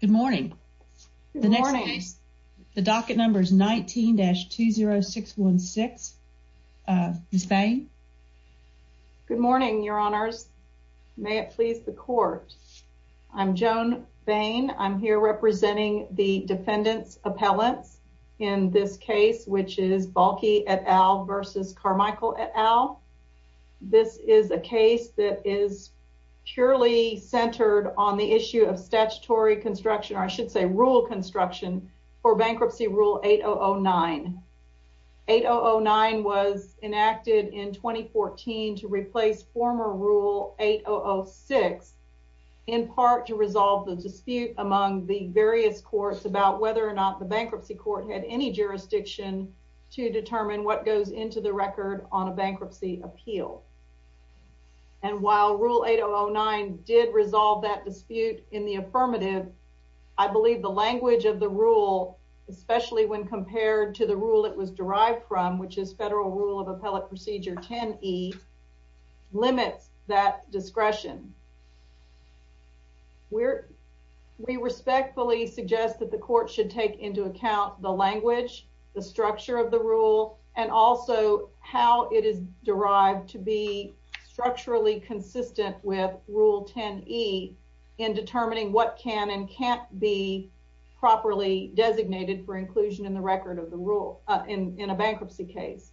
Good morning. The next case, the docket number is 19-20616. Ms. Bain? Good morning, your honors. May it please the court. I'm Joan Bain. I'm here representing the defendants' appellants in this case, which is Balke et al. versus Carmichael et al. This is a case that is purely centered on the issue of statutory construction, or I should say rule construction, for Bankruptcy Rule 8009. 8009 was enacted in 2014 to replace former Rule 8006, in part to resolve the dispute among the various courts about whether or not the bankruptcy court had any jurisdiction to determine what goes into the record on a bankruptcy appeal. And while Rule 8009 did resolve that dispute in the affirmative, I believe the language of the rule, especially when compared to the rule it was derived from, which is Federal Rule of Appellate Procedure 10e, limits that discretion. We respectfully suggest that the court should take into account the structurally consistent with Rule 10e in determining what can and can't be properly designated for inclusion in the record of the rule in a bankruptcy case.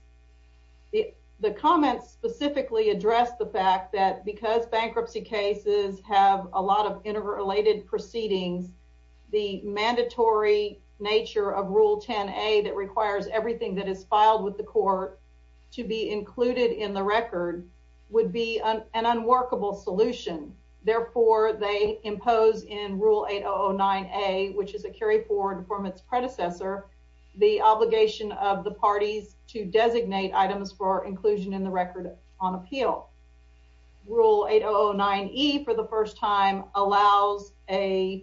The comments specifically address the fact that because bankruptcy cases have a lot of interrelated proceedings, the mandatory nature of Rule 10a that would be an unworkable solution. Therefore, they impose in Rule 8009a, which is a carry forward from its predecessor, the obligation of the parties to designate items for inclusion in the record on appeal. Rule 8009e, for the first time, allows an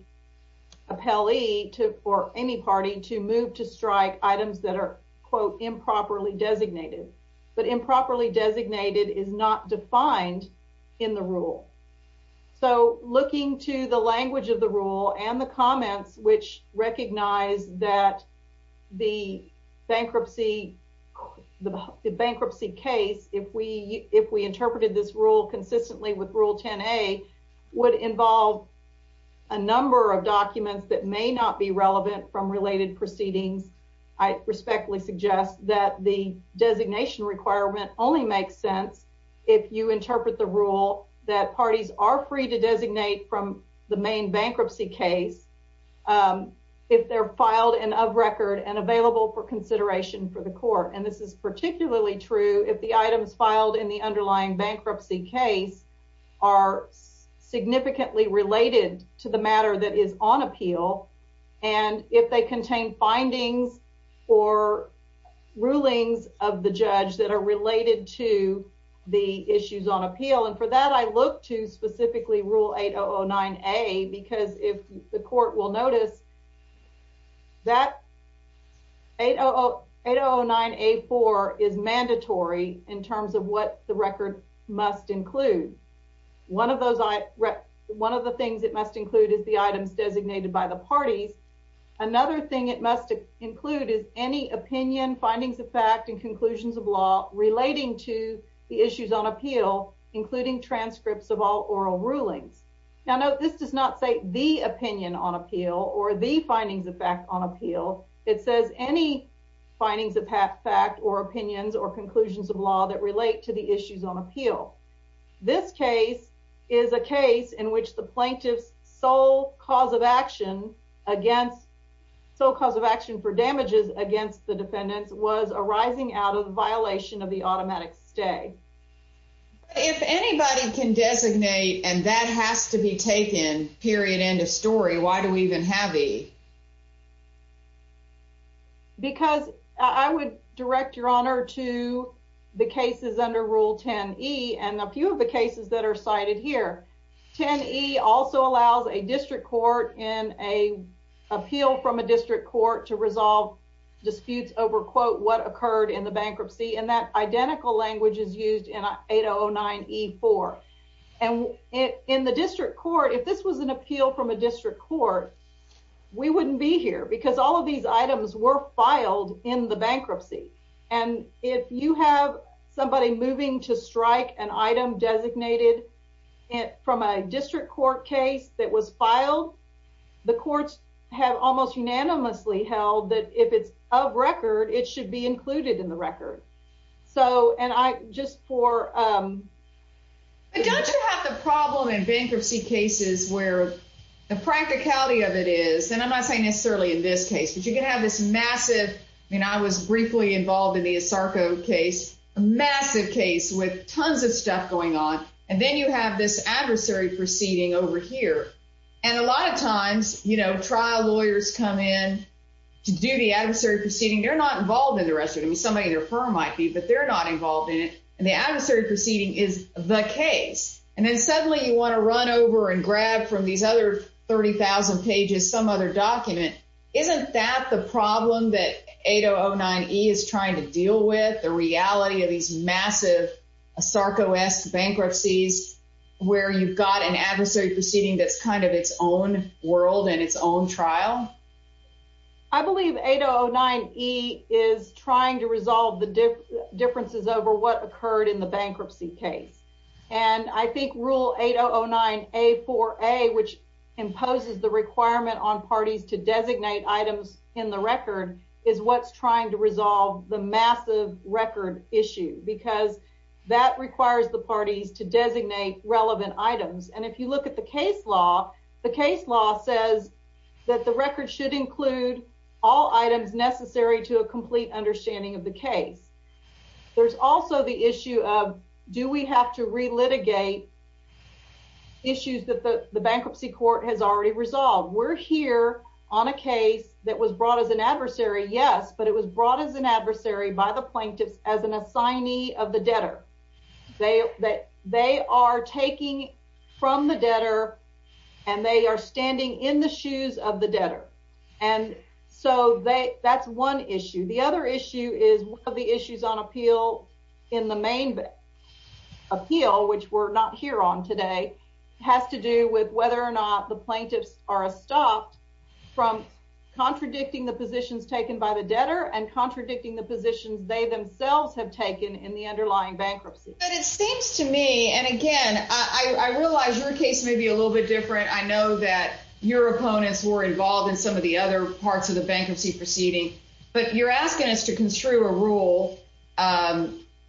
appellee or any party to move to strike items that are, quote, improperly designated. But improperly designated is not defined in the rule. So looking to the language of the rule and the comments which recognize that the bankruptcy case, if we interpreted this rule consistently with Rule 10a, would involve a number of documents that may not be relevant from related proceedings, I respectfully suggest that the designation requirement only makes sense if you interpret the rule that parties are free to designate from the main bankruptcy case if they're filed and of record and available for consideration for the court. And this is particularly true if the items filed in the underlying bankruptcy case are significantly related to the matter that is on appeal and if they contain findings or rulings of the judge that are related to the issues on appeal. And for that, I look to specifically Rule 8009a because if the court will notice that 8009a-4 is mandatory in terms of what the record must include. One of those, one of the things it must include is the items designated by the parties. Another thing it must include is any opinion, findings of fact and conclusions of law relating to the issues on appeal, including transcripts of all oral rulings. Now, note this does not say the opinion on appeal or the findings of fact on appeal. It says any findings of fact or opinions or conclusions of law relating to the issues on appeal. This case is a case in which the plaintiff's sole cause of action against, sole cause of action for damages against the defendants was arising out of the violation of the automatic stay. If anybody can designate and that has to be taken, period, end of story, why do we even have E? Because I would direct your honor to the cases under Rule 10e and a few of the cases that are cited here. 10e also allows a district court in a appeal from a district court to resolve disputes over quote what occurred in the bankruptcy and that identical language is used in 8009e-4. And in the district court, if this was an appeal from a district court, we wouldn't be here because all of these items were filed in the bankruptcy. And if you have somebody moving to strike an item designated from a district court case that was filed, the courts have almost unanimously held that if it's of record, it should be included in the record. So and I just for, um, don't you have the problem in bankruptcy cases where the practicality of it is, and I'm not saying necessarily in this case, but you can have this massive, I mean, I was briefly involved in the Asarco case, a massive case with tons of stuff going on. And then you have this adversary proceeding over here. And a lot of times, you know, trial lawyers come in to do the adversary proceeding, they're not involved in the rest of it. I mean, somebody in their firm might be, but they're not involved in it. And the adversary proceeding is the case. And then suddenly you want to run over and grab from these other 30,000 pages, some other document. Isn't that the problem that 8009E is trying to deal with the reality of these massive Asarco-esque bankruptcies, where you've got an adversary proceeding that's kind of its own world and its own trial? I believe 8009E is trying to resolve the differences over what occurred in the case. And I think that the rule 8009A4A, which imposes the requirement on parties to designate items in the record, is what's trying to resolve the massive record issue, because that requires the parties to designate relevant items. And if you look at the case law, the case law says that the record should include all items necessary to a complete understanding of the case. There's also the issue of, do we have to relitigate issues that the bankruptcy court has already resolved? We're here on a case that was brought as an adversary, yes, but it was brought as an adversary by the plaintiffs as an assignee of the debtor. They are taking from the debtor, and they are standing in the shoes of the debtor. And so that's one issue. The other issue is one of the issues on the main appeal, which we're not here on today, has to do with whether or not the plaintiffs are stopped from contradicting the positions taken by the debtor and contradicting the positions they themselves have taken in the underlying bankruptcy. But it seems to me, and again, I realize your case may be a little bit different. I know that your opponents were involved in some of the other parts of the bankruptcy proceeding. But you're asking us to construe a rule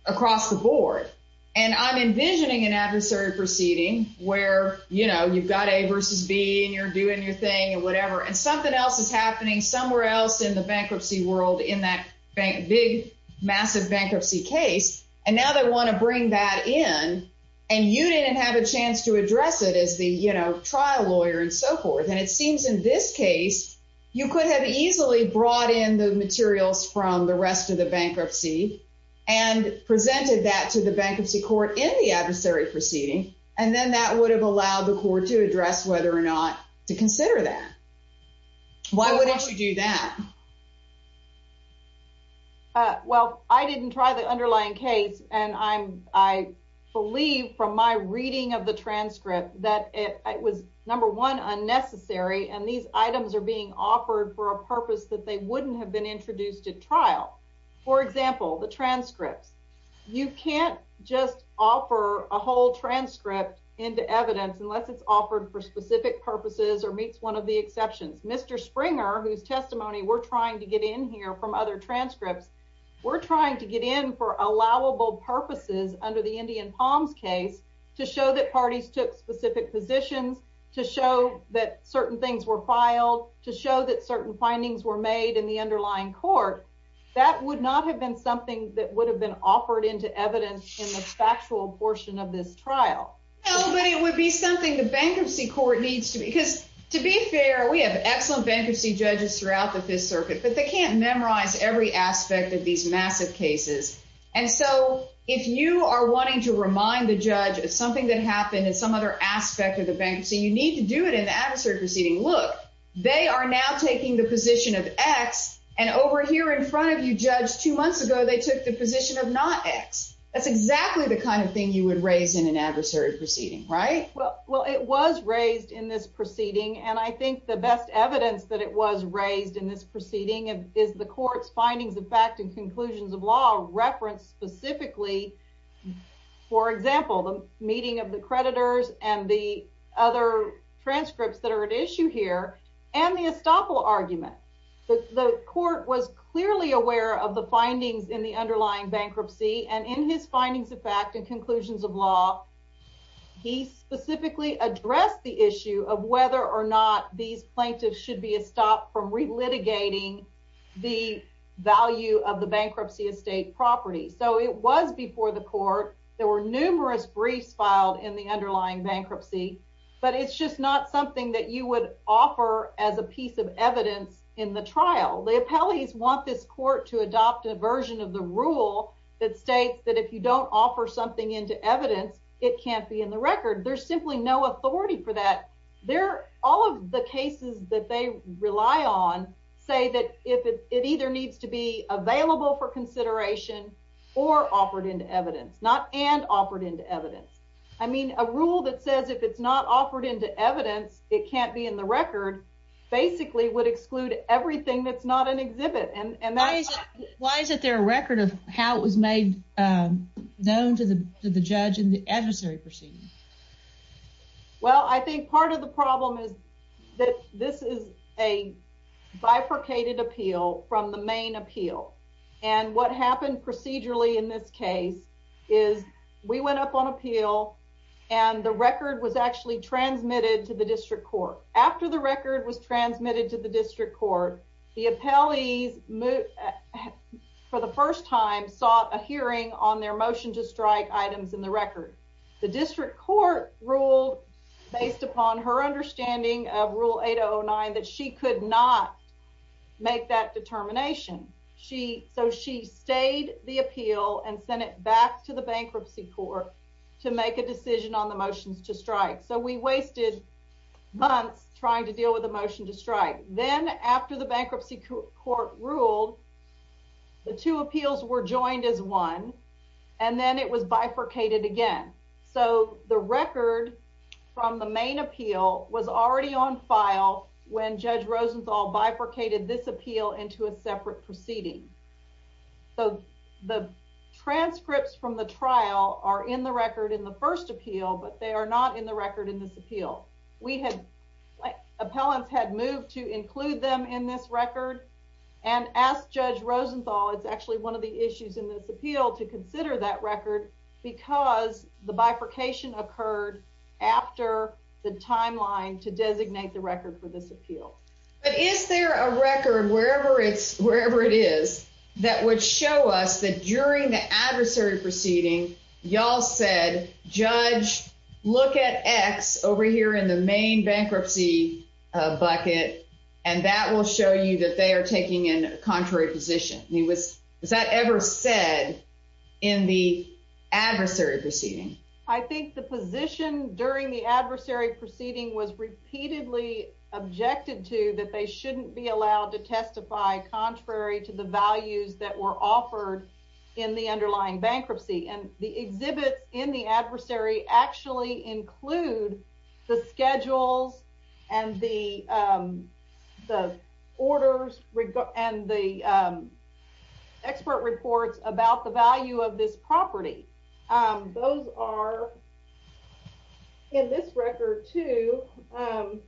across the board. And I'm envisioning an adversary proceeding where, you know, you've got A versus B, and you're doing your thing and whatever, and something else is happening somewhere else in the bankruptcy world in that big, massive bankruptcy case. And now they want to bring that in. And you didn't have a chance to address it as the, you know, trial lawyer and so forth. And it seems in this case, you could have easily brought in the materials from the rest of the bankruptcy, and presented that to the bankruptcy court in the adversary proceeding. And then that would have allowed the court to address whether or not to consider that. Why wouldn't you do that? Well, I didn't try the underlying case. And I'm, I believe from my reading of the these items are being offered for a purpose that they wouldn't have been introduced at trial. For example, the transcripts. You can't just offer a whole transcript into evidence unless it's offered for specific purposes or meets one of the exceptions. Mr Springer, whose testimony we're trying to get in here from other transcripts. We're trying to get in for allowable purposes under the Indian palms case to show that parties took specific positions to show that certain things were filed to show that certain findings were made in the underlying court. That would not have been something that would have been offered into evidence in the factual portion of this trial. But it would be something the bankruptcy court needs to because, to be fair, we have excellent bankruptcy judges throughout the Fifth Circuit, but they can't memorize every aspect of these massive cases. And so if you are wanting to remind the judge of something that happened in some other aspect of the bankruptcy, you need to do it in the adversary proceeding. Look, they are now taking the position of X and over here in front of you judged two months ago, they took the position of not X. That's exactly the kind of thing you would raise in an adversary proceeding, right? Well, it was raised in this proceeding, and I think the best evidence that it was raised in this proceeding is the court's findings of fact and conclusions of law reference specifically, for example, the meeting of the creditors and the other transcripts that are at issue here and the estoppel argument. The court was clearly aware of the findings in the underlying bankruptcy, and in his findings of fact and conclusions of law, he specifically addressed the issue of whether or not these plaintiffs should be a stop from relitigating the value of the bankruptcy estate property. So it was before the court. There were numerous briefs filed in the underlying bankruptcy, but it's just not something that you would offer as a piece of evidence in the trial. The appellees want this court to adopt a version of the rule that states that if you don't offer something into evidence, it can't be in the record. There's simply no authority for that. They're all of the cases that they rely on say that if it either needs to be available for offered into evidence, not and offered into evidence. I mean, a rule that says if it's not offered into evidence, it can't be in the record basically would exclude everything that's not an exhibit. And that is why is it their record of how it was made known to the judge in the adversary proceeding? Well, I think part of the problem is that this is a bifurcated appeal from the main appeal. And what happened procedurally in this case is we went up on appeal and the record was actually transmitted to the district court. After the record was transmitted to the district court, the appellees moved for the first time, sought a hearing on their motion to strike items in the record. The district court ruled based upon her understanding of Rule 809 that she could not make that determination. She so she stayed the appeal and sent it back to the bankruptcy court to make a decision on the motions to strike. So we wasted months trying to deal with the motion to strike. Then, after the bankruptcy court ruled, the two appeals were joined as one and then it was bifurcated again. So the record from the main appeal was already on file when Judge Rosenthal bifurcated this appeal into a separate proceeding. So the transcripts from the trial are in the record in the first appeal, but they are not in the record in this appeal. We had appellants had moved to include them in this record and asked Judge Rosenthal. It's actually one of the issues in this appeal to consider that record because the bifurcation occurred after the but is there a record wherever it's wherever it is that would show us that during the adversary proceeding, y'all said, Judge, look at X over here in the main bankruptcy bucket, and that will show you that they're taking in contrary position. He was. Is that ever said in the adversary proceeding? I think the that they shouldn't be allowed to testify. Contrary to the values that were offered in the underlying bankruptcy and the exhibits in the adversary actually include the schedules and the, um, the orders and the, um, expert reports about the value of this property. Um, those are in this record to, um,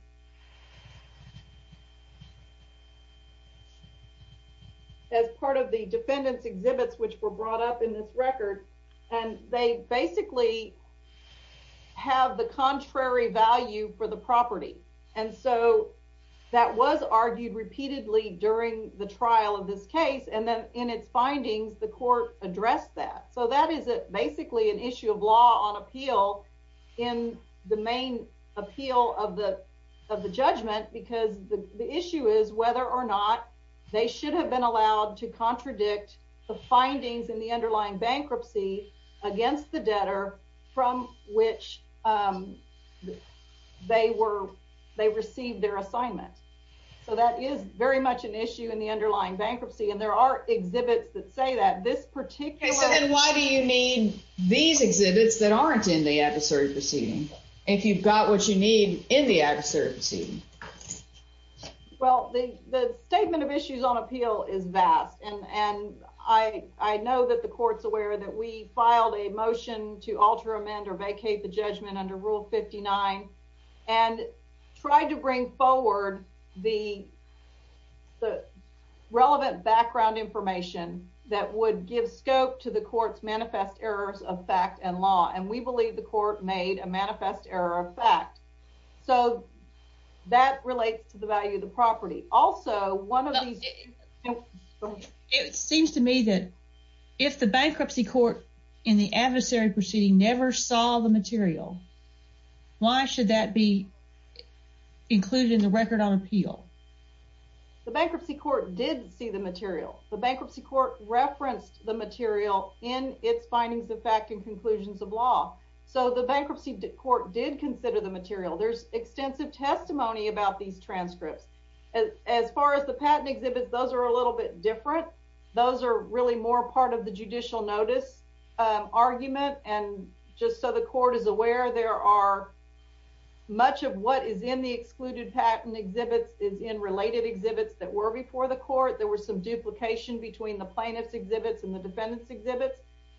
as part of the defendants exhibits, which were brought up in this record, and they basically have the contrary value for the property. And so that was argued repeatedly during the trial of this case, and then in its findings, the court addressed that. So that is basically an issue of law on appeal in the main appeal of the of the judgment, because the issue is whether or not they should have been allowed to contradict the findings in the underlying bankruptcy against the debtor from which, um, they were they received their assignment. So that is very much an issue in the underlying bankruptcy, and there are exhibits that say that this particular. Why do you need these proceedings? If you've got what you need in the excerpt, see, well, the statement of issues on appeal is vast, and I know that the court's aware that we filed a motion to alter, amend or vacate the judgment under Rule 59 and tried to bring forward the the relevant background information that would give scope to the court's manifest errors of fact and law, and we believe the court made a manifest error of fact. So that relates to the value of the property. Also, one of the it seems to me that if the bankruptcy court in the adversary proceeding never saw the material, why should that be included in the record on appeal? The bankruptcy court did see the material. The bankruptcy court referenced the its findings of fact and conclusions of law. So the bankruptcy court did consider the material. There's extensive testimony about these transcripts. As far as the patent exhibits, those are a little bit different. Those are really more part of the judicial notice argument. And just so the court is aware, there are much of what is in the excluded patent exhibits is in related exhibits that were before the court. There was some duplication between the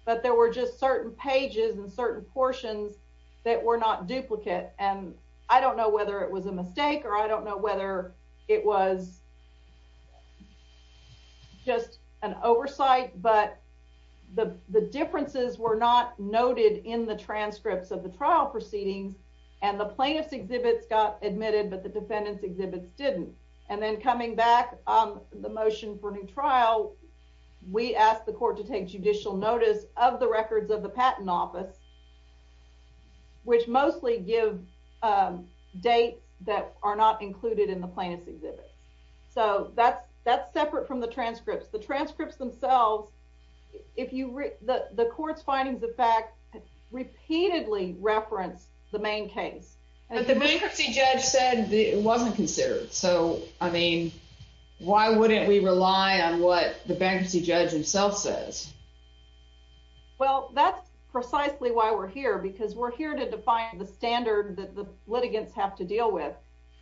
but there were just certain pages and certain portions that were not duplicate. And I don't know whether it was a mistake or I don't know whether it was just an oversight, but the differences were not noted in the transcripts of the trial proceedings and the plaintiff's exhibits got admitted, but the defendant's exhibits didn't. And then coming back on the motion for a new trial, we asked the records of the patent office, which mostly give dates that are not included in the plaintiff's exhibits. So that's, that's separate from the transcripts, the transcripts themselves. If you read the court's findings of fact, repeatedly reference the main case. And the bankruptcy judge said it wasn't considered. So I mean, why wouldn't we Well, that's precisely why we're here, because we're here to define the standard that the litigants have to deal with.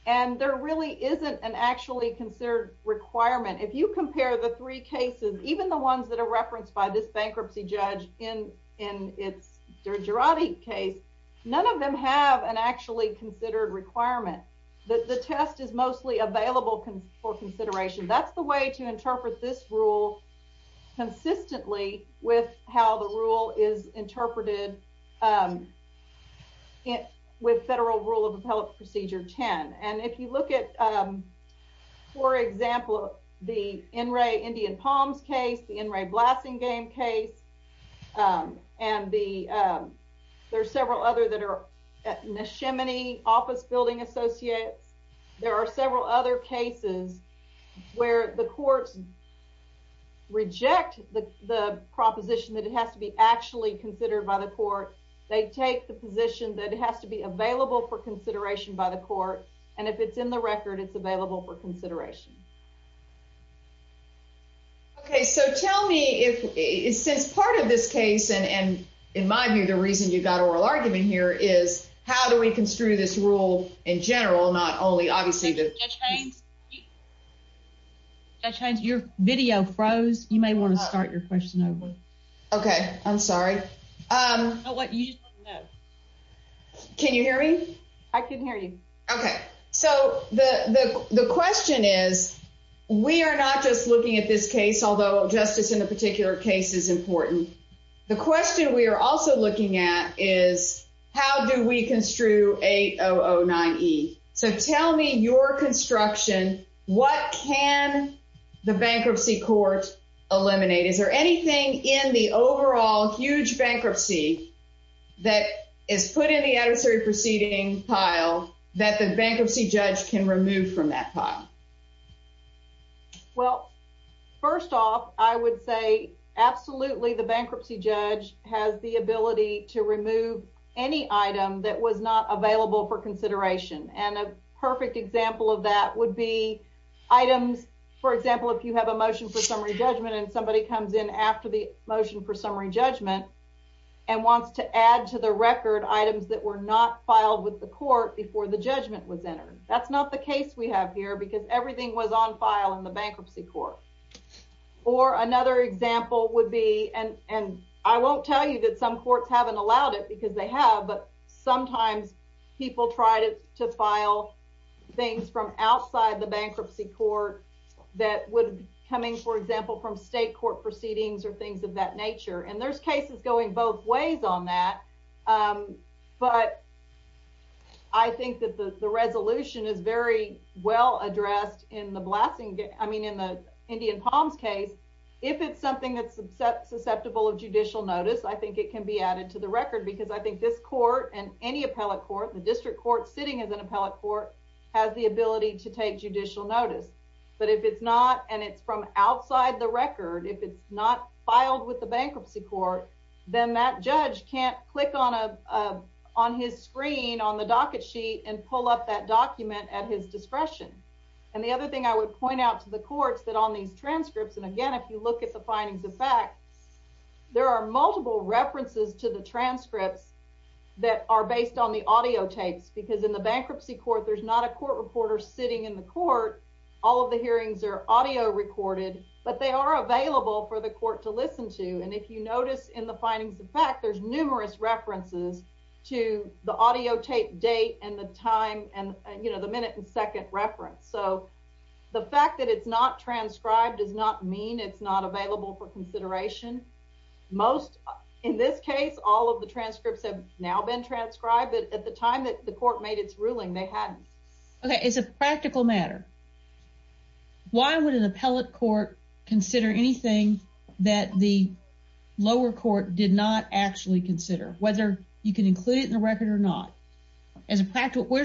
And there really isn't an actually considered requirement. If you compare the three cases, even the ones that are referenced by this bankruptcy judge in, in its Durati case, none of them have an actually considered requirement that the test is mostly available for consideration. That's the way to interpret this rule consistently with how the rule is interpreted with federal rule of appellate procedure 10. And if you look at, for example, the NRA Indian palms case, the NRA blasting game case, and the, there's several other that are Neshimany office building associates. There are several other cases where the courts reject the, the proposition that it has to be actually considered by the court. They take the position that it has to be available for consideration by the court. And if it's in the record, it's available for consideration. Okay, so tell me if it's since part of this case, and in my view, the reason you got oral argument here is how do we construe this rule in general? Not only obviously, that change your video froze, you may want to start your question over. Okay, I'm sorry. Can you hear me? I can hear you. Okay. So the question is, we are not just looking at this case, although justice in a particular case is important. The question that we're also looking at is, how do we construe 8009 E. So tell me your construction, what can the bankruptcy court eliminate? Is there anything in the overall huge bankruptcy that is put in the adversary proceeding pile that the bankruptcy judge can remove from that pile? Well, first off, I would say absolutely. The bankruptcy judge has the ability to remove any item that was not available for consideration. And a perfect example of that would be items. For example, if you have a motion for summary judgment and somebody comes in after the motion for summary judgment and wants to add to the record items that were not filed with the court before the judgment was everything was on file in the bankruptcy court. Or another example would be and and I won't tell you that some courts haven't allowed it because they have. But sometimes people try to file things from outside the bankruptcy court that would coming, for example, from state court proceedings or things of that nature. And there's cases going both ways on that. Um, but I think that the resolution is very well addressed in the blasting. I mean, in the Indian palms case, if it's something that's susceptible of judicial notice, I think it can be added to the record because I think this court and any appellate court, the district court sitting as an appellate court has the ability to take judicial notice. But if it's not, and it's from outside the record, if it's not filed with the bankruptcy court, then that judge can't click on a on his screen on the docket sheet and pull up that document at his discretion. And the other thing I would point out to the courts that on these transcripts and again, if you look at the findings of fact, there are multiple references to the transcripts that are based on the audio tapes, because in the bankruptcy court, there's not a court reporter sitting in the court. All of the hearings air audio recorded, but they are available for the court to listen to. And if you notice in the findings of fact, there's numerous references to the audio tape date and the time and you know, the minute and second reference. So the fact that it's not transcribed does not mean it's not available for consideration. Most in this case, all of the transcripts have now been transcribed at the time that the court made its ruling. They hadn't. Okay, it's a practical matter. Why would an appellate court consider anything that the lower court did not actually consider whether you can include it in the record or not? As a practical,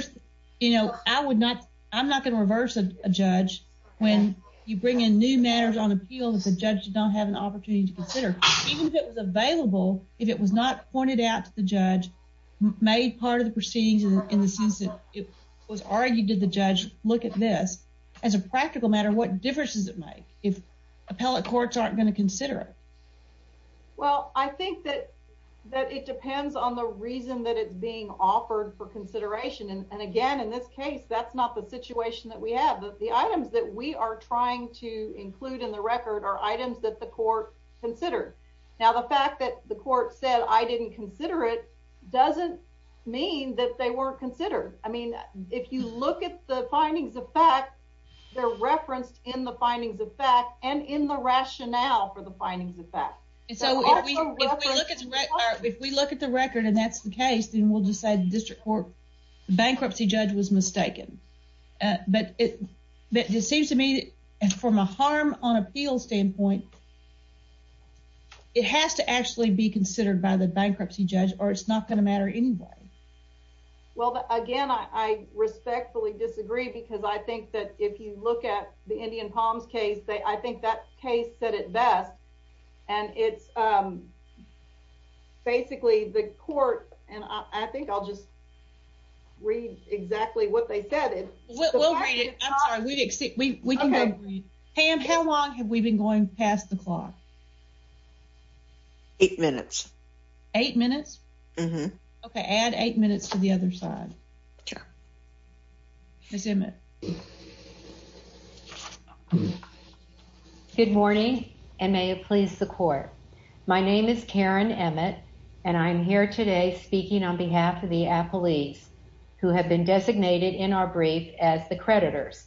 you know, I would not, I'm not going to reverse a judge when you bring in new matters on appeal that the judge did not have an opportunity to consider, even if it was available, if it was not pointed out to the judge made part of the proceedings in the sense that it was argued to the judge, look at this as a practical matter, what difference does it make if appellate courts aren't going to consider it? Well, I think that that it depends on the reason that it's being offered for consideration. And again, in this case, that's not the situation that we have. But the items that we are trying to include in the record are items that the court considered. Now, the fact that the court said I didn't consider it doesn't mean that they weren't considered. I mean, if you look at the findings of fact, they're referenced in the findings of fact and in the rationale for the findings of fact. So if we look at the record, and that's the case, then we'll just say the district court bankruptcy judge was mistaken. But it seems to me that from a harm on appeal standpoint, it has to actually be considered by the bankruptcy judge, or it's not going to matter anyway. Well, again, I respectfully disagree, because I think that if you look at the best, and it's basically the court, and I think I'll just read exactly what they said it will read it. We didn't see we can read. Pam, how long have we been going past the clock? Eight minutes. Eight minutes. Okay, add eight minutes to the other side. Sure. Ms. Emmett. Good morning, and may it please the court. My name is Karen Emmett, and I'm here today speaking on behalf of the appellees who have been designated in our brief as the creditors.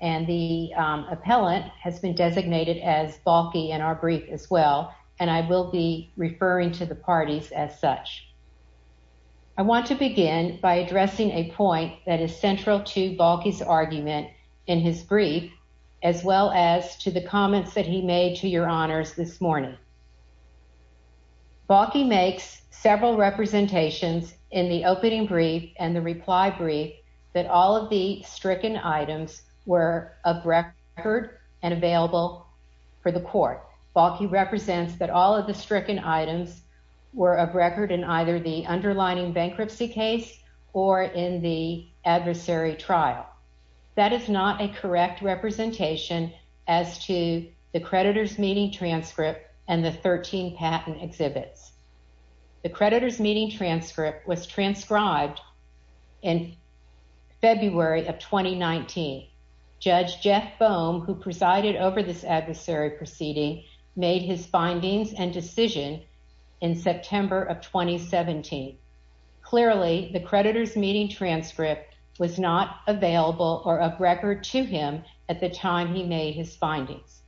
And the appellant has been designated as bulky in our brief as well. And I will be referring to the parties as such. I want to begin by addressing a point that is central to bulky's argument in his brief, as well as to the comments that he made to your honors this morning. Bucky makes several representations in the opening brief and the reply brief that all of the stricken items were of record and available for the court. Bucky represents that all of the stricken items were a record in either the underlining bankruptcy case or in the adversary trial. That is not a correct representation as to the creditors meeting transcript and the 13 patent exhibits. The creditors meeting transcript was transcribed in February of 2019. Judge Jeff Boehm, who presided over this adversary proceeding, made his findings and decision in September of 2017. Clearly, the creditors meeting transcript was not available or of record to him at the time he made his findings.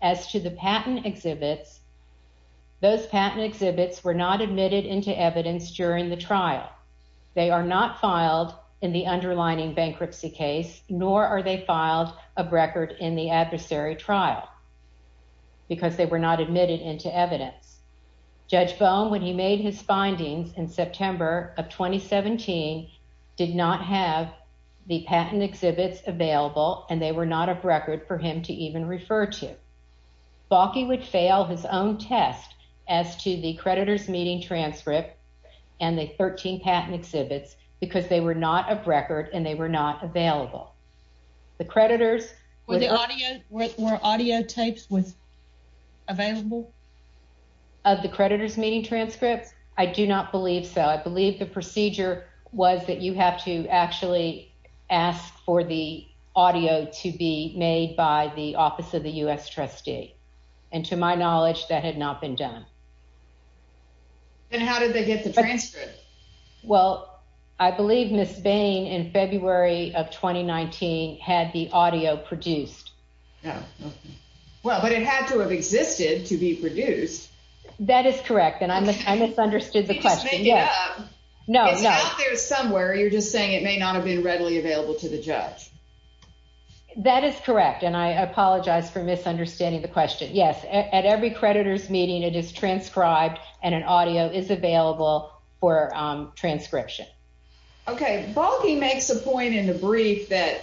As to the patent exhibits, those patent exhibits were not admitted into evidence during the trial. They are not filed in the underlining bankruptcy case, nor are they filed a record in the adversary trial because they were not admitted into evidence. Judge Boehm, when he made his findings in September of 2017, did not have the patent exhibits available and they were not of record for him to even refer to. Bucky would fail his own test as to the creditors meeting transcript and the 13 patent exhibits because they were not of record and they were not available. The creditors... Were audio tapes available? Of the creditors meeting transcripts? I do not believe so. I believe the procedure was that you have to actually ask for the audio to be made by the Office of the U.S. Trustee, and to my knowledge that had not been done. And how did they get the transcript? Well, I believe Ms. Bain in Well, but it had to have existed to be produced. That is correct, and I misunderstood the question. It's out there somewhere, you're just saying it may not have been readily available to the judge. That is correct, and I apologize for misunderstanding the question. Yes, at every creditors meeting it is transcribed and an audio is available for transcription. Okay, Bucky makes a point in the brief that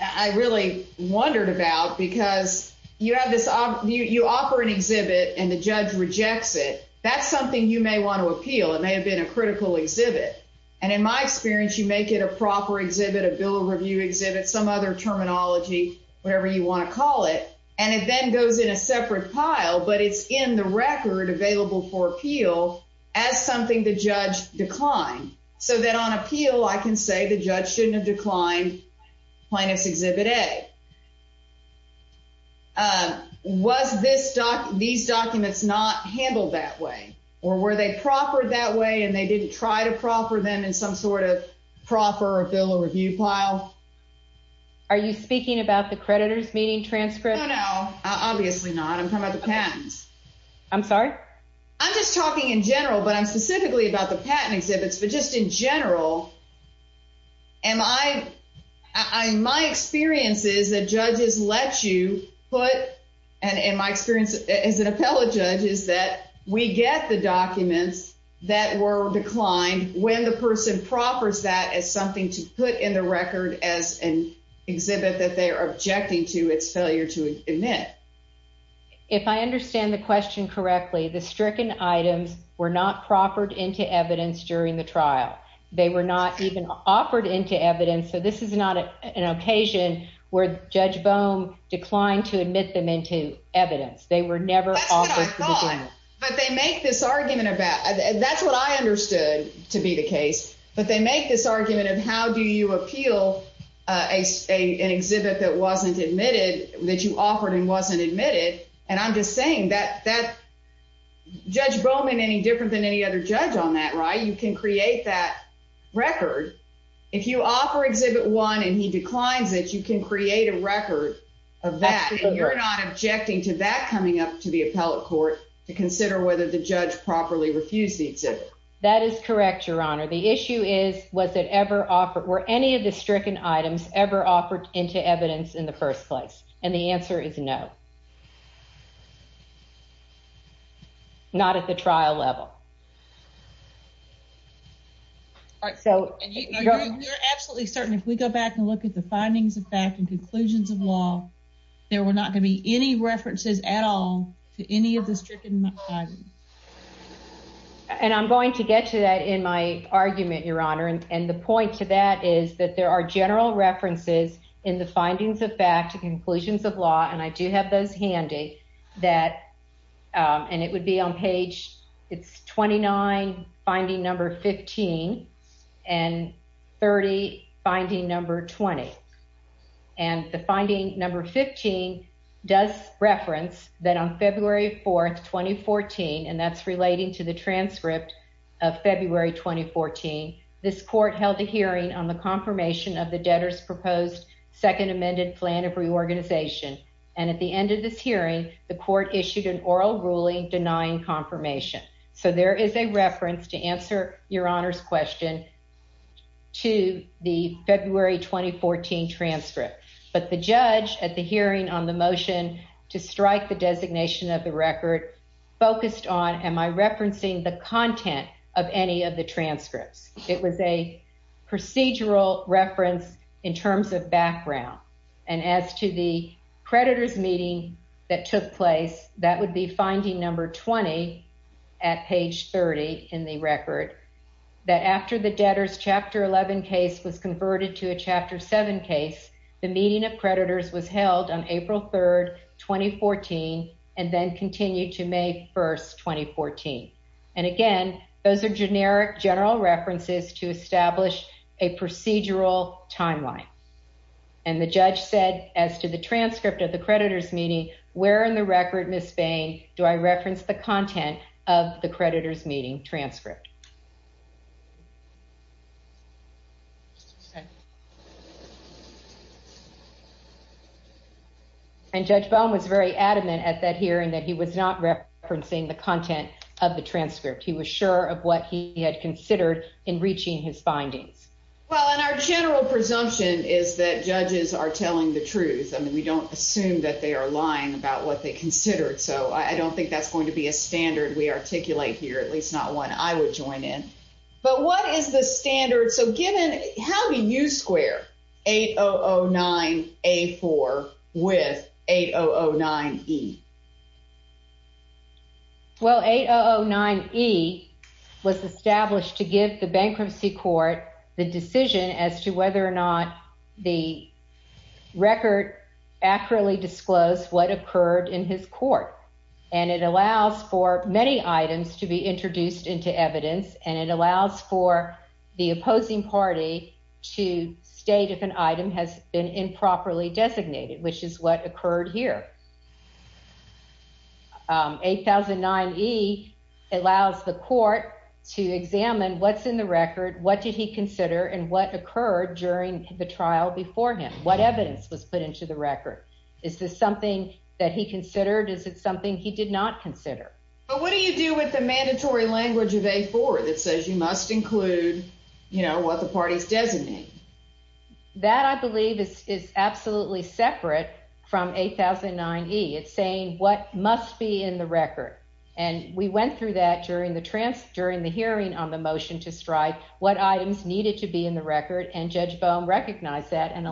I really wondered about, because you have this, you offer an exhibit and the judge rejects it. That's something you may want to appeal. It may have been a critical exhibit, and in my experience you make it a proper exhibit, a bill of review exhibit, some other terminology, whatever you want to call it, and it then goes in a separate pile, but it's in the record available for appeal as something the judge declined. So that on appeal I can say the judge declined plaintiff's exhibit A. Was this doc, these documents not handled that way, or were they proffered that way and they didn't try to proffer them in some sort of proffer or bill of review pile? Are you speaking about the creditors meeting transcript? No, no, obviously not. I'm talking about the patents. I'm sorry? I'm just talking in general, but I'm specifically about the patent exhibits, but just in general am I, my experience is that judges let you put, and in my experience as an appellate judge is that we get the documents that were declined when the person proffers that as something to put in the record as an exhibit that they are objecting to its failure to admit. If I understand the question correctly, the stricken items were not proffered into evidence during the trial. They were not even offered into evidence. So this is not an occasion where Judge Bohm declined to admit them into evidence. They were never offered. But they make this argument about that's what I understood to be the case. But they make this argument of how do you appeal a an exhibit that wasn't admitted that you offered and wasn't admitted. And I'm just saying that that Judge Bowman any than any other judge on that, right? You can create that record. If you offer exhibit one and he declines it, you can create a record of that. You're not objecting to that coming up to the appellate court to consider whether the judge properly refused the exhibit. That is correct, Your Honor. The issue is, was it ever offered? Were any of the stricken items ever offered into evidence in the first place? And the answer is no, not at the trial level. All right, so you're absolutely certain if we go back and look at the findings of fact and conclusions of law, there were not gonna be any references at all to any of the stricken items. And I'm going to get to that in my argument, Your Honor. And the point to that is that there are general references in findings of fact conclusions of law, and I do have those handy that and it would be on page. It's 29 finding number 15 and 30 finding number 20. And the finding number 15 does reference that on February 4th, 2014, and that's relating to the transcript of February 2014. This court held a confirmation of the debtors proposed second amended plan of reorganization, and at the end of this hearing, the court issued an oral ruling denying confirmation. So there is a reference to answer your honor's question to the February 2014 transcript. But the judge at the hearing on the motion to strike the designation of the record focused on. Am I referencing the content of any of the transcripts? It was a procedural reference in terms of background. And as to the creditors meeting that took place, that would be finding number 20 at page 30 in the record that after the debtors chapter 11 case was converted to a chapter seven case, the meeting of creditors was held on April 3rd, 2014, and then continued to May 1st, 2014. And again, those are generic general references to establish a procedural timeline. And the judge said as to the transcript of the creditors meeting where in the record Miss Bain, do I reference the content of the creditors meeting transcript? And Judge Baum was very adamant at that hearing that he was not referencing the content of the transcript. He was sure of what he had considered in reaching his findings. Well, in our general presumption is that judges are telling the truth. I mean, we don't assume that they are lying about what they considered. So I don't think that's going to be a standard we articulate here, at least not one I would judge. But what is the standard? So given how do you square 8009A4 with 8009E? Well, 8009E was established to give the bankruptcy court the decision as to whether or not the record accurately disclosed what occurred in his court. And it allows for many items to be introduced into evidence and it allows for the opposing party to state if an item has been improperly designated, which is what occurred here. 8009E allows the court to examine what's in the record, what did he consider and what occurred during the trial before him? What evidence was put into the record? Is this something that he considered? Is it something he did not consider? But what do you do with the mandatory language of A4 that says you must include, you know, what the parties designate? That, I believe, is absolutely separate from 8009E. It's saying what must be in the record. And we went through that during the hearing on the motion to strike what items needed to be in the record. And Judge Bohm recognized that and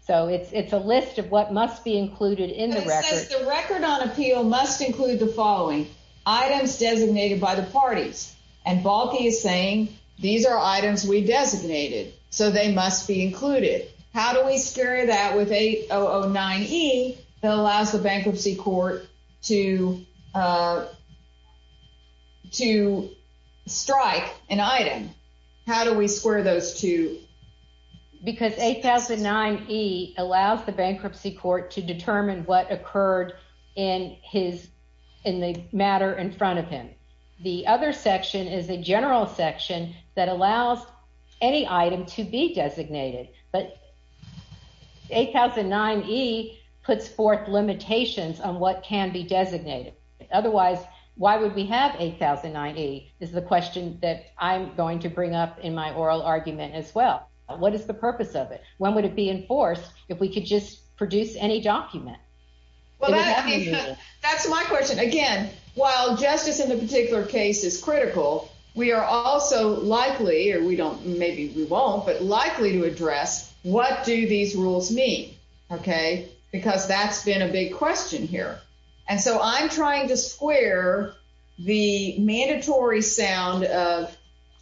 so it's a list of what must be included in the record. It says the record on appeal must include the following. Items designated by the parties. And Balki is saying these are items we designated, so they must be included. How do we square that with 8009E that allows the bankruptcy court to to strike an item? How do we square those two? Because 8009E allows the bankruptcy court to determine what occurred in the matter in front of him. The other section is a general section that allows any item to be designated. But 8009E puts forth limitations on what can be designated. Otherwise, why would we have 8009E is the question that I'm going to bring up in my oral argument as well. What is the purpose of it? When would it be enforced if we could just produce any document? Well, that's my question. Again, while justice in the particular case is critical, we are also likely, or we don't, maybe we won't, but likely to address what do these question here. And so I'm trying to square the mandatory sound of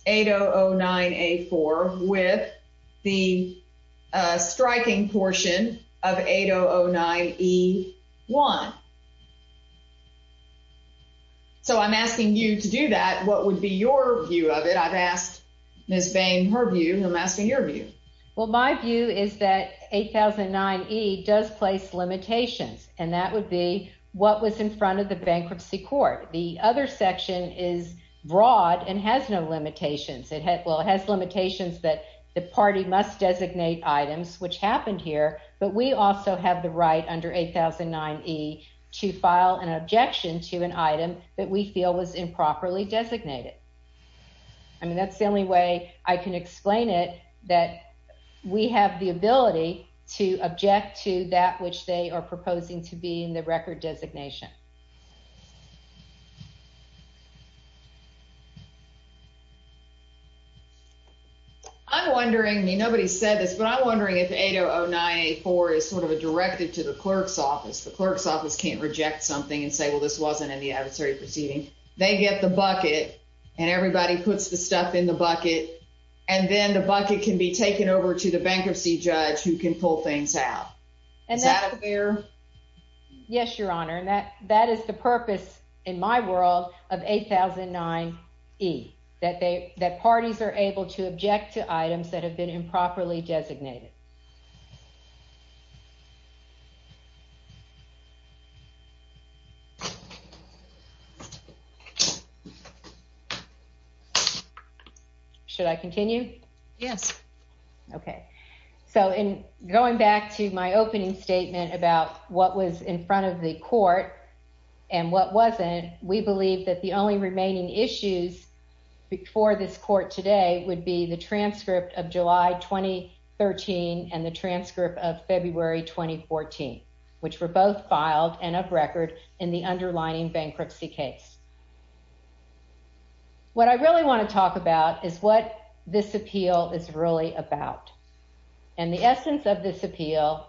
8009A4 with the striking portion of 8009E1. So I'm asking you to do that. What would be your view of it? I've asked Ms. Bain her view. I'm asking your view. Well, my view is that 8009E does place limitations, and that would be what was in front of the bankruptcy court. The other section is broad and has no limitations. It has limitations that the party must designate items, which happened here. But we also have the right under 8009E to file an objection to an item that we feel was improperly designated. I mean, that's the only way I can explain it, that we have the ability to object to that which they are proposing to be in the record designation. I'm wondering, I mean, nobody said this, but I'm wondering if 8009A4 is sort of a directive to the clerk's office. The clerk's office can't reject something and say, well, this wasn't in the proceeding. They get the bucket, and everybody puts the stuff in the bucket, and then the bucket can be taken over to the bankruptcy judge who can pull things out. Is that fair? Yes, Your Honor, and that is the purpose in my world of 8009E, that parties are able to object to items that are in the record designation. Should I continue? Yes. Okay. So in going back to my opening statement about what was in front of the court and what wasn't, we believe that the only remaining issues before this court today would be the transcript of July 2013 and the transcript of February 2014, which were both filed and of record in the underlying bankruptcy case. What I really want to talk about is what this appeal is really about, and the essence of this appeal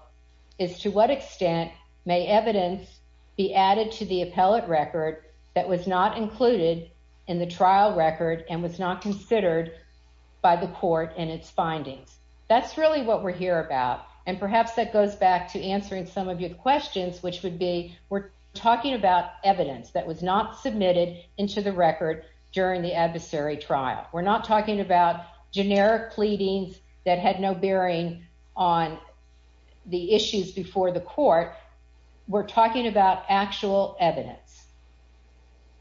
is to what extent may evidence be added to the appellate record that was not included in the trial record and was not considered by the court in its findings. That's really what we're here about, and perhaps that goes back to answering some of your questions, which would be, we're talking about evidence that was not submitted into the record during the adversary trial. We're not talking about generic pleadings that had no bearing on the issues before the court. We're talking about actual evidence,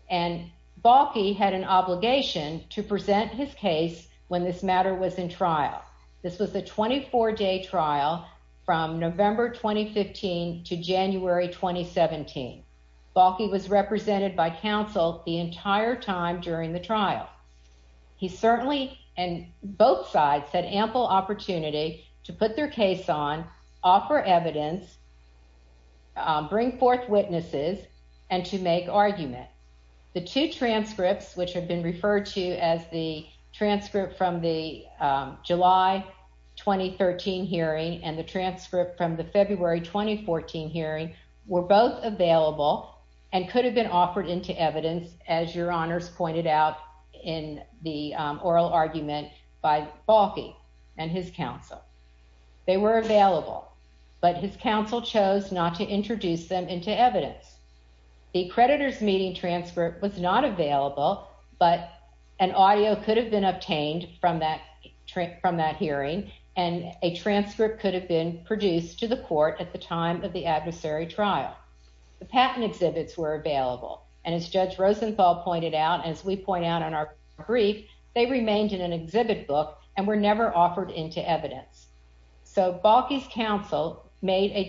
and Balki had an obligation to present his case when this matter was in trial. This was a 24-day trial from November 2015 to January 2017. Balki was represented by counsel the entire time during the trial. He certainly, and both sides, had ample opportunity to put their case on, offer evidence, bring forth witnesses, and to make argument. The two transcripts, which have been referred to as the transcript from the July 2013 hearing and the transcript from the February 2014 hearing, were both available and could have been offered into evidence, as your honors pointed out in the oral argument by Balki and his counsel. They were available, but his counsel chose not to introduce them into evidence. The creditor's meeting transcript was not available, but an audio could have been obtained from that hearing, and a transcript could have been produced to the court at the time of the adversary trial. The patent exhibits were available, and as Judge Rosenthal pointed out, and as we point out in our brief, they remained in an exhibit book and were never offered into evidence. So Balki's counsel made a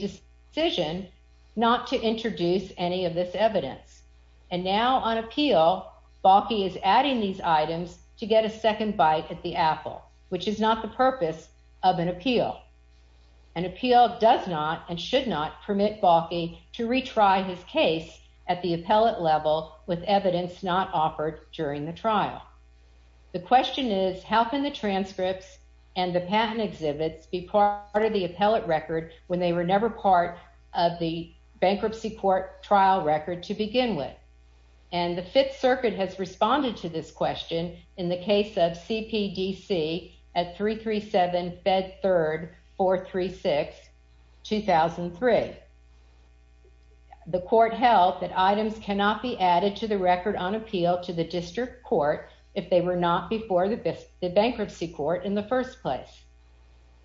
decision not to introduce any of this evidence, and now on appeal, Balki is adding these items to get a second bite at the apple, which is not the purpose of an appeal. An appeal does not and should not permit Balki to retry his case at the appellate level with evidence not offered during the trial. The question is, how can the transcripts and the patent exhibits be part of the appellate record when they were never part of the bankruptcy court trial record to begin with? And the Fifth Circuit has responded to this question in the case of CPDC at 337 Fed 3rd 436 2003. The court held that items cannot be added to the record on appeal to the district court if they were not before the bankruptcy court in the first place.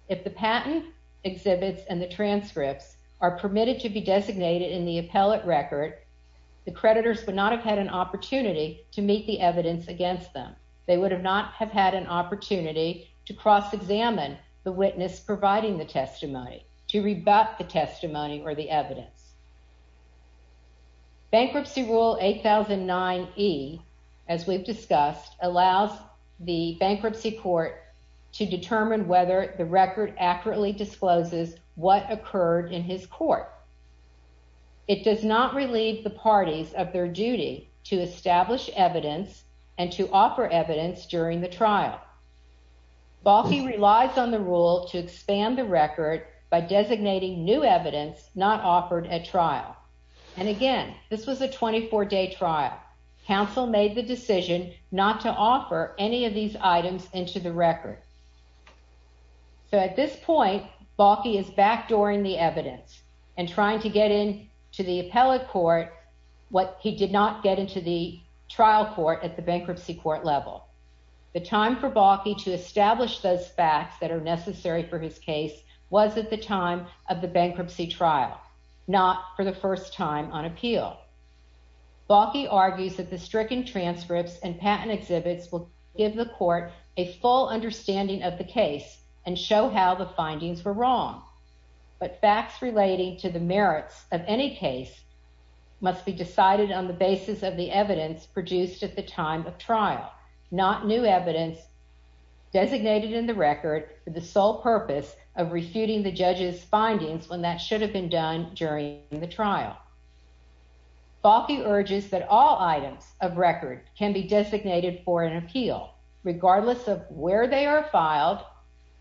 If the patent exhibits and the transcripts are permitted to be designated in the appellate record, the creditors would not have had an opportunity to meet the evidence against them. They would not have had an the witness providing the testimony to rebut the testimony or the evidence. Bankruptcy Rule 8009 E, as we've discussed, allows the bankruptcy court to determine whether the record accurately discloses what occurred in his court. It does not relieve the parties of their duty to establish evidence and to offer evidence during the trial. Balkhi relies on the rule to expand the record by designating new evidence not offered at trial. And again, this was a 24-day trial. Council made the decision not to offer any of these items into the record. So at this point, Balkhi is backdooring the evidence and trying to get in to the appellate court what he did not get into the trial court at the bankruptcy court level. The time for Balkhi to establish those facts that are necessary for his case was at the time of the bankruptcy trial, not for the first time on appeal. Balkhi argues that the stricken transcripts and patent exhibits will give the court a full understanding of the case and show how the findings were wrong. But facts relating to the merits of any case must be decided on the basis of the evidence produced at the time of trial, not new evidence designated in the record for the sole purpose of refuting the judge's findings when that should have been done during the trial. Balkhi urges that all items of record can be designated for an appeal regardless of where they are filed,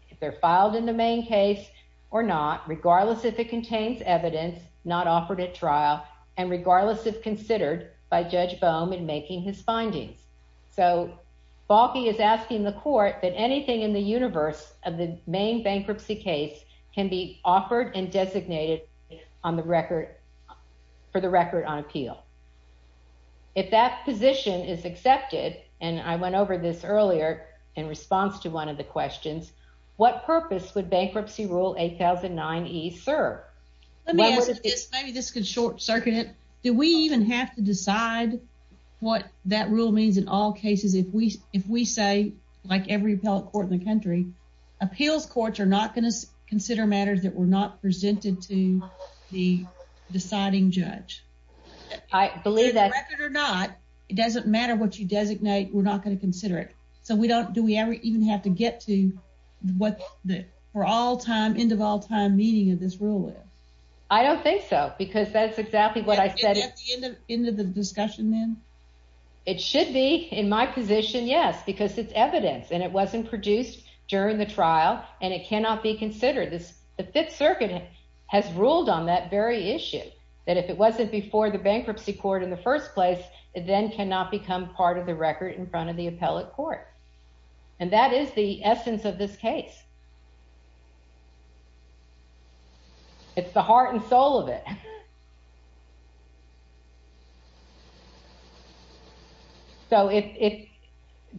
if they're filed in the main case or not, regardless if it contains evidence not offered at trial, and regardless if considered by Judge Bohm in making his findings. So Balkhi is asking the court that anything in the universe of the main bankruptcy case can be offered and designated on the record for the record on appeal. If that position is accepted, and I went over this earlier in response to one of the questions, what purpose would Let me ask you this, maybe this could short circuit it, do we even have to decide what that rule means in all cases if we if we say like every appellate court in the country, appeals courts are not going to consider matters that were not presented to the deciding judge. I believe that it doesn't matter what you designate, we're not going to consider it. So we don't do we ever even have to get to what the for all time end of all time meaning of this rule is? I don't think so because that's exactly what I said at the end of the discussion then. It should be in my position yes because it's evidence and it wasn't produced during the trial and it cannot be considered. The Fifth Circuit has ruled on that very issue that if it wasn't before the bankruptcy court in the first place it then cannot become part of the record in front of the appellate court and that is the essence of this case. It's the heart and soul of it. So if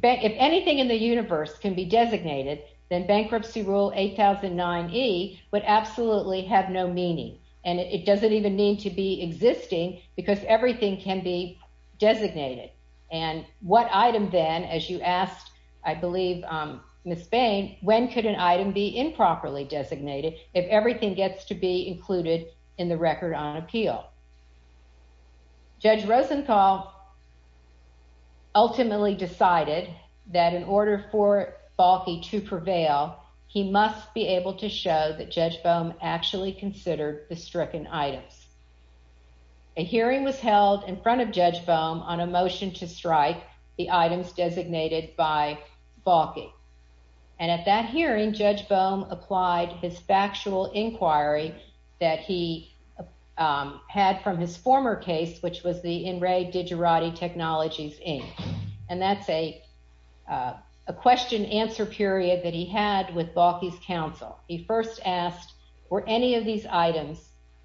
anything in the universe can be designated then bankruptcy rule 8009e would absolutely have no meaning and it doesn't even need to be existing because everything can be designated and what item then as you asked I believe Ms. Bain, when could an item be improperly designated if everything gets to be included in the record on appeal? Judge Rosenthal ultimately decided that in order for Balfi to prevail he must be able to show that Judge in front of Judge Boehm on a motion to strike the items designated by Balfi and at that hearing Judge Boehm applied his factual inquiry that he had from his former case which was the In Re Digerati Technologies Inc and that's a question answer period that he had with Balfi's counsel. He first asked were any of these items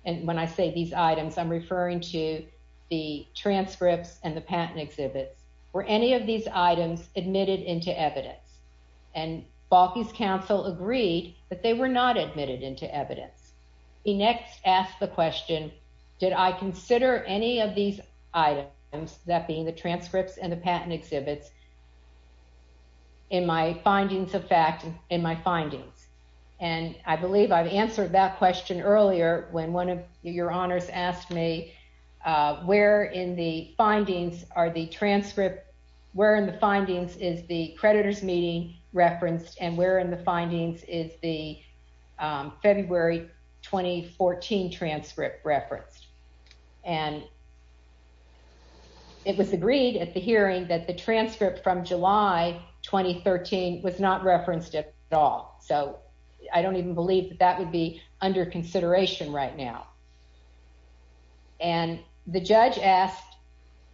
and when I say these items I'm referring to the transcripts and the patent exhibits were any of these items admitted into evidence and Balfi's counsel agreed that they were not admitted into evidence. He next asked the question did I consider any of these items that being the transcripts and the patent exhibits in my findings of fact in my findings and I believe I've answered that question earlier when one of your honors asked me where in the findings are the transcript, where in the findings is the creditors meeting referenced and where in the findings is the February 2014 transcript referenced and it was agreed at the hearing that the transcript from July 2013 was not referenced at all so I don't even believe that that would be under consideration right now and the judge asked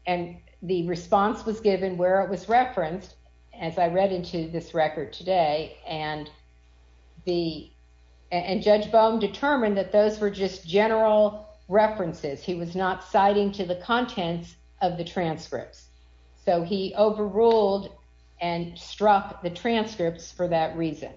and the response was given where it was referenced as I read into this record today and the and Judge Boehm determined that those were just general references he was not citing to the contents of the transcripts so he overruled and struck the transcripts for that reason.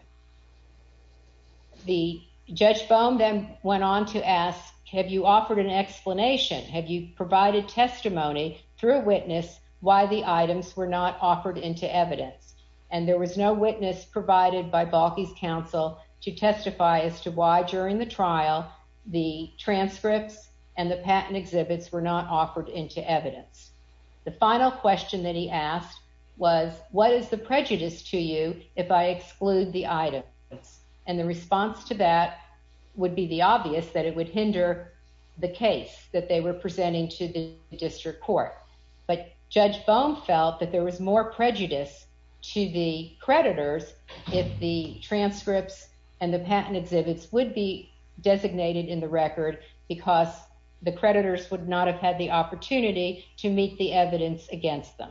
The Judge Boehm then went on to ask have you offered an explanation have you provided testimony through a witness why the items were not offered into evidence and there was no witness provided by Balfi's counsel to testify as to why during the trial the transcripts and the patent exhibits were not offered into evidence. The final question that he asked was what is the prejudice to you if I exclude the items and the response to that would be the obvious that it would hinder the case that they were presenting to the district court but Judge Boehm felt that there was more prejudice to the creditors if the transcripts the patent exhibits would be designated in the record because the creditors would not have had the opportunity to meet the evidence against them.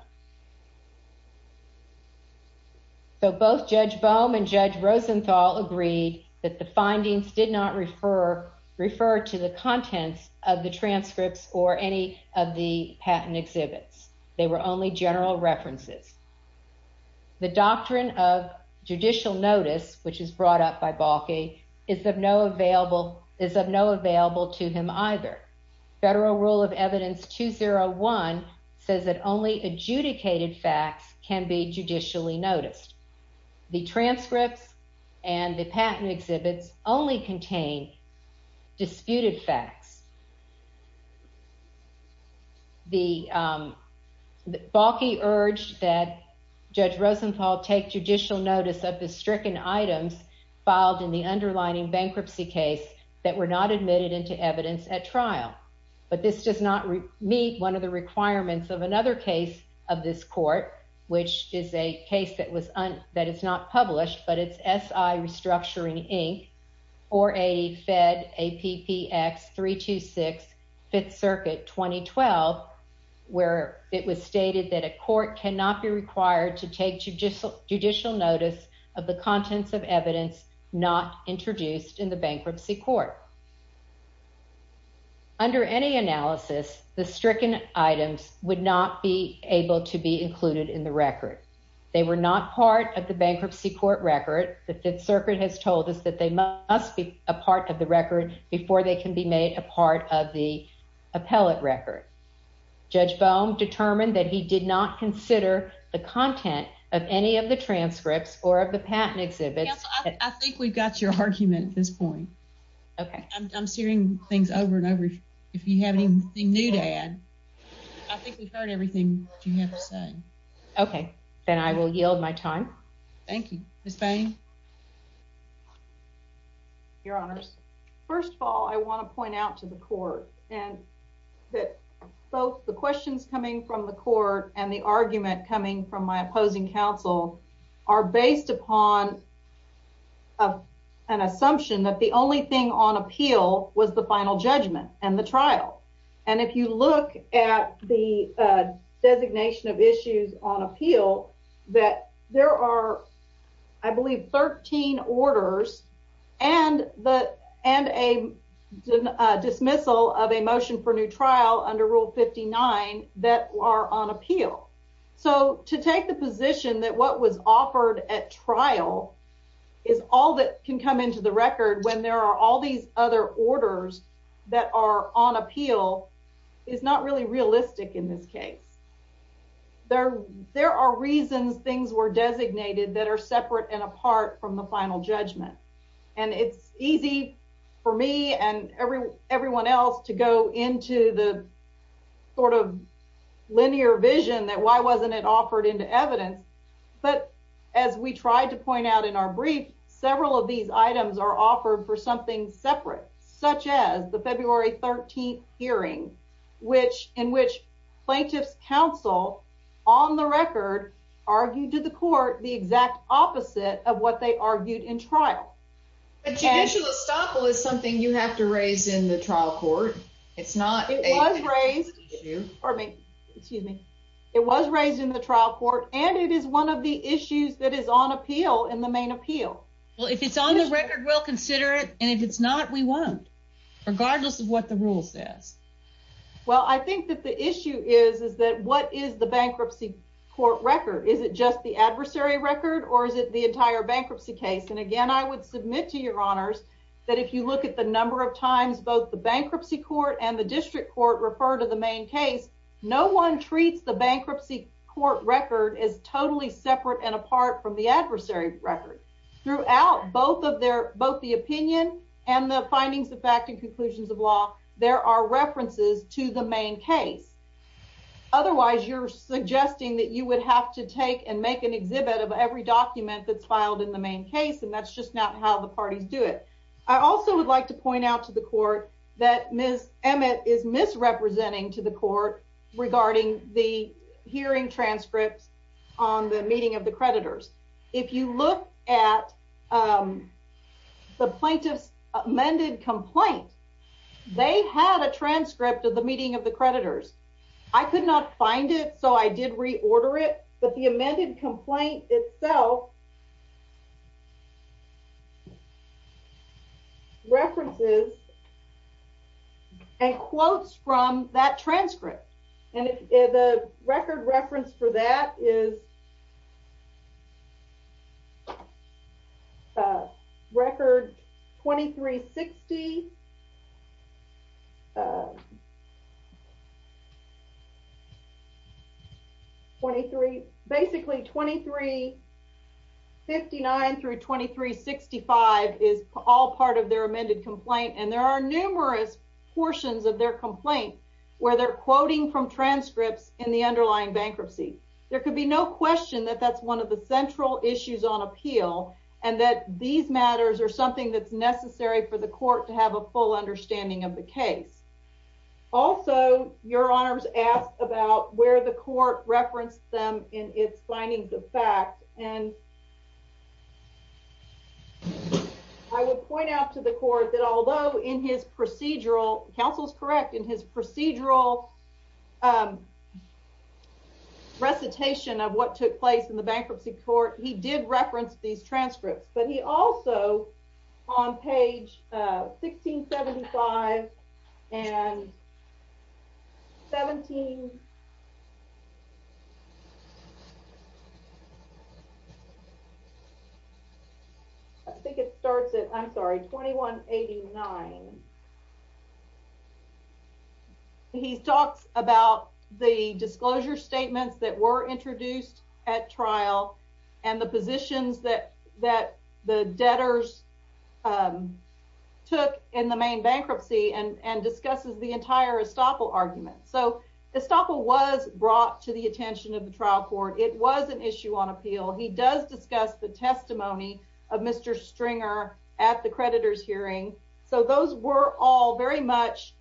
So both Judge Boehm and Judge Rosenthal agreed that the findings did not refer refer to the contents of the transcripts or any of the patent exhibits they were only general references. The doctrine of judicial notice which is brought up by Balki is of no available is of no available to him either. Federal rule of evidence 201 says that only adjudicated facts can be judicially noticed. The transcripts and the patent exhibits only contain disputed facts. Balki urged that Judge Rosenthal take judicial notice of the filed in the underlining bankruptcy case that were not admitted into evidence at trial but this does not meet one of the requirements of another case of this court which is a case that was that is not published but it's SI Restructuring Inc or a fed appx 326 5th circuit 2012 where it stated that a court cannot be required to take judicial judicial notice of the contents of evidence not introduced in the bankruptcy court. Under any analysis the stricken items would not be able to be included in the record. They were not part of the bankruptcy court record. The 5th circuit has told us that they must be a part of the record before they can be made a part of the record. He did not consider the content of any of the transcripts or of the patent exhibits. I think we've got your argument at this point. I'm searing things over and over if you have anything new to add. I think we've heard everything that you have to say. Okay. Then I will yield my time. Thank you. Ms. Bain. Your honors. First of all I want to point out to the court that both the questions coming from the court and the argument coming from my opposing counsel are based upon an assumption that the only thing on appeal was the final judgment and the trial. And if you look at the designation of issues on appeal that there are I believe 13 orders and a dismissal of a motion for trial under rule 59 that are on appeal. So to take the position that what was offered at trial is all that can come into the record when there are all these other orders that are on appeal is not really realistic in this case. There are reasons things were designated that are separate and apart from the final judgment. And it's easy for me and everyone else to go into the sort of linear vision that why wasn't it offered into evidence. But as we tried to point out in our brief, several of these items are offered for something separate such as the February 13th which in which plaintiff's counsel on the record argued to the court the exact opposite of what they argued in trial. But judicial estoppel is something you have to raise in the trial court. It's not. It was raised in the trial court and it is one of the issues that is on appeal in the main appeal. Well if it's on the record we'll consider it and if it's not we won't regardless of what the rule says. Well I think that the issue is is that what is the bankruptcy court record. Is it just the adversary record or is it the entire bankruptcy case? And again I would submit to your honors that if you look at the number of times both the bankruptcy court and the district court refer to the main case no one treats the bankruptcy court record as totally separate and apart from the adversary record. Throughout both of their both the opinion and the findings of act and conclusions of law there are references to the main case. Otherwise you're suggesting that you would have to take and make an exhibit of every document that's filed in the main case and that's just not how the parties do it. I also would like to point out to the court that Ms. Emmett is misrepresenting to the court regarding the hearing transcripts on the meeting of the creditors. If you look at the plaintiff's amended complaint they had a transcript of the meeting of the creditors. I could not find it so I did reorder it but the amended complaint itself references and quotes from that transcript and the record reference for that is uh record 2360 23 basically 2359 through 2365 is all part of their amended complaint and there are numerous portions of their complaint where they're quoting from transcripts in the underlying bankruptcy. There could be no question that that's one of the central issues on appeal and that these matters are something that's necessary for the court to have a full understanding of the case. Also your honors asked about where the court referenced them in its findings of fact and I would point out to the court that although in his procedural counsel's correct in his procedural um recitation of what took place in the bankruptcy court he did reference these transcripts but he also on page 1675 and 17 I think it starts at I'm sorry 2189 he talks about the disclosure statements that were introduced at trial and the positions that that the debtors um took in the main bankruptcy and and discusses the entire estoppel argument. So estoppel was brought to the attention of the trial court. It was an issue on appeal. He does discuss the testimony of Mr. Stringer at the creditor's hearing so he does discuss the testimony of Mr. Stringer. So those were all very much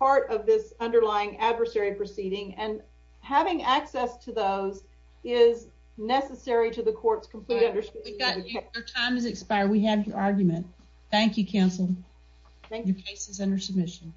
part of this underlying adversary proceeding and having access to those is necessary to the court's complete understanding. Your time has expired. We have your argument. Thank you counsel. Thank you. Your case is under submission.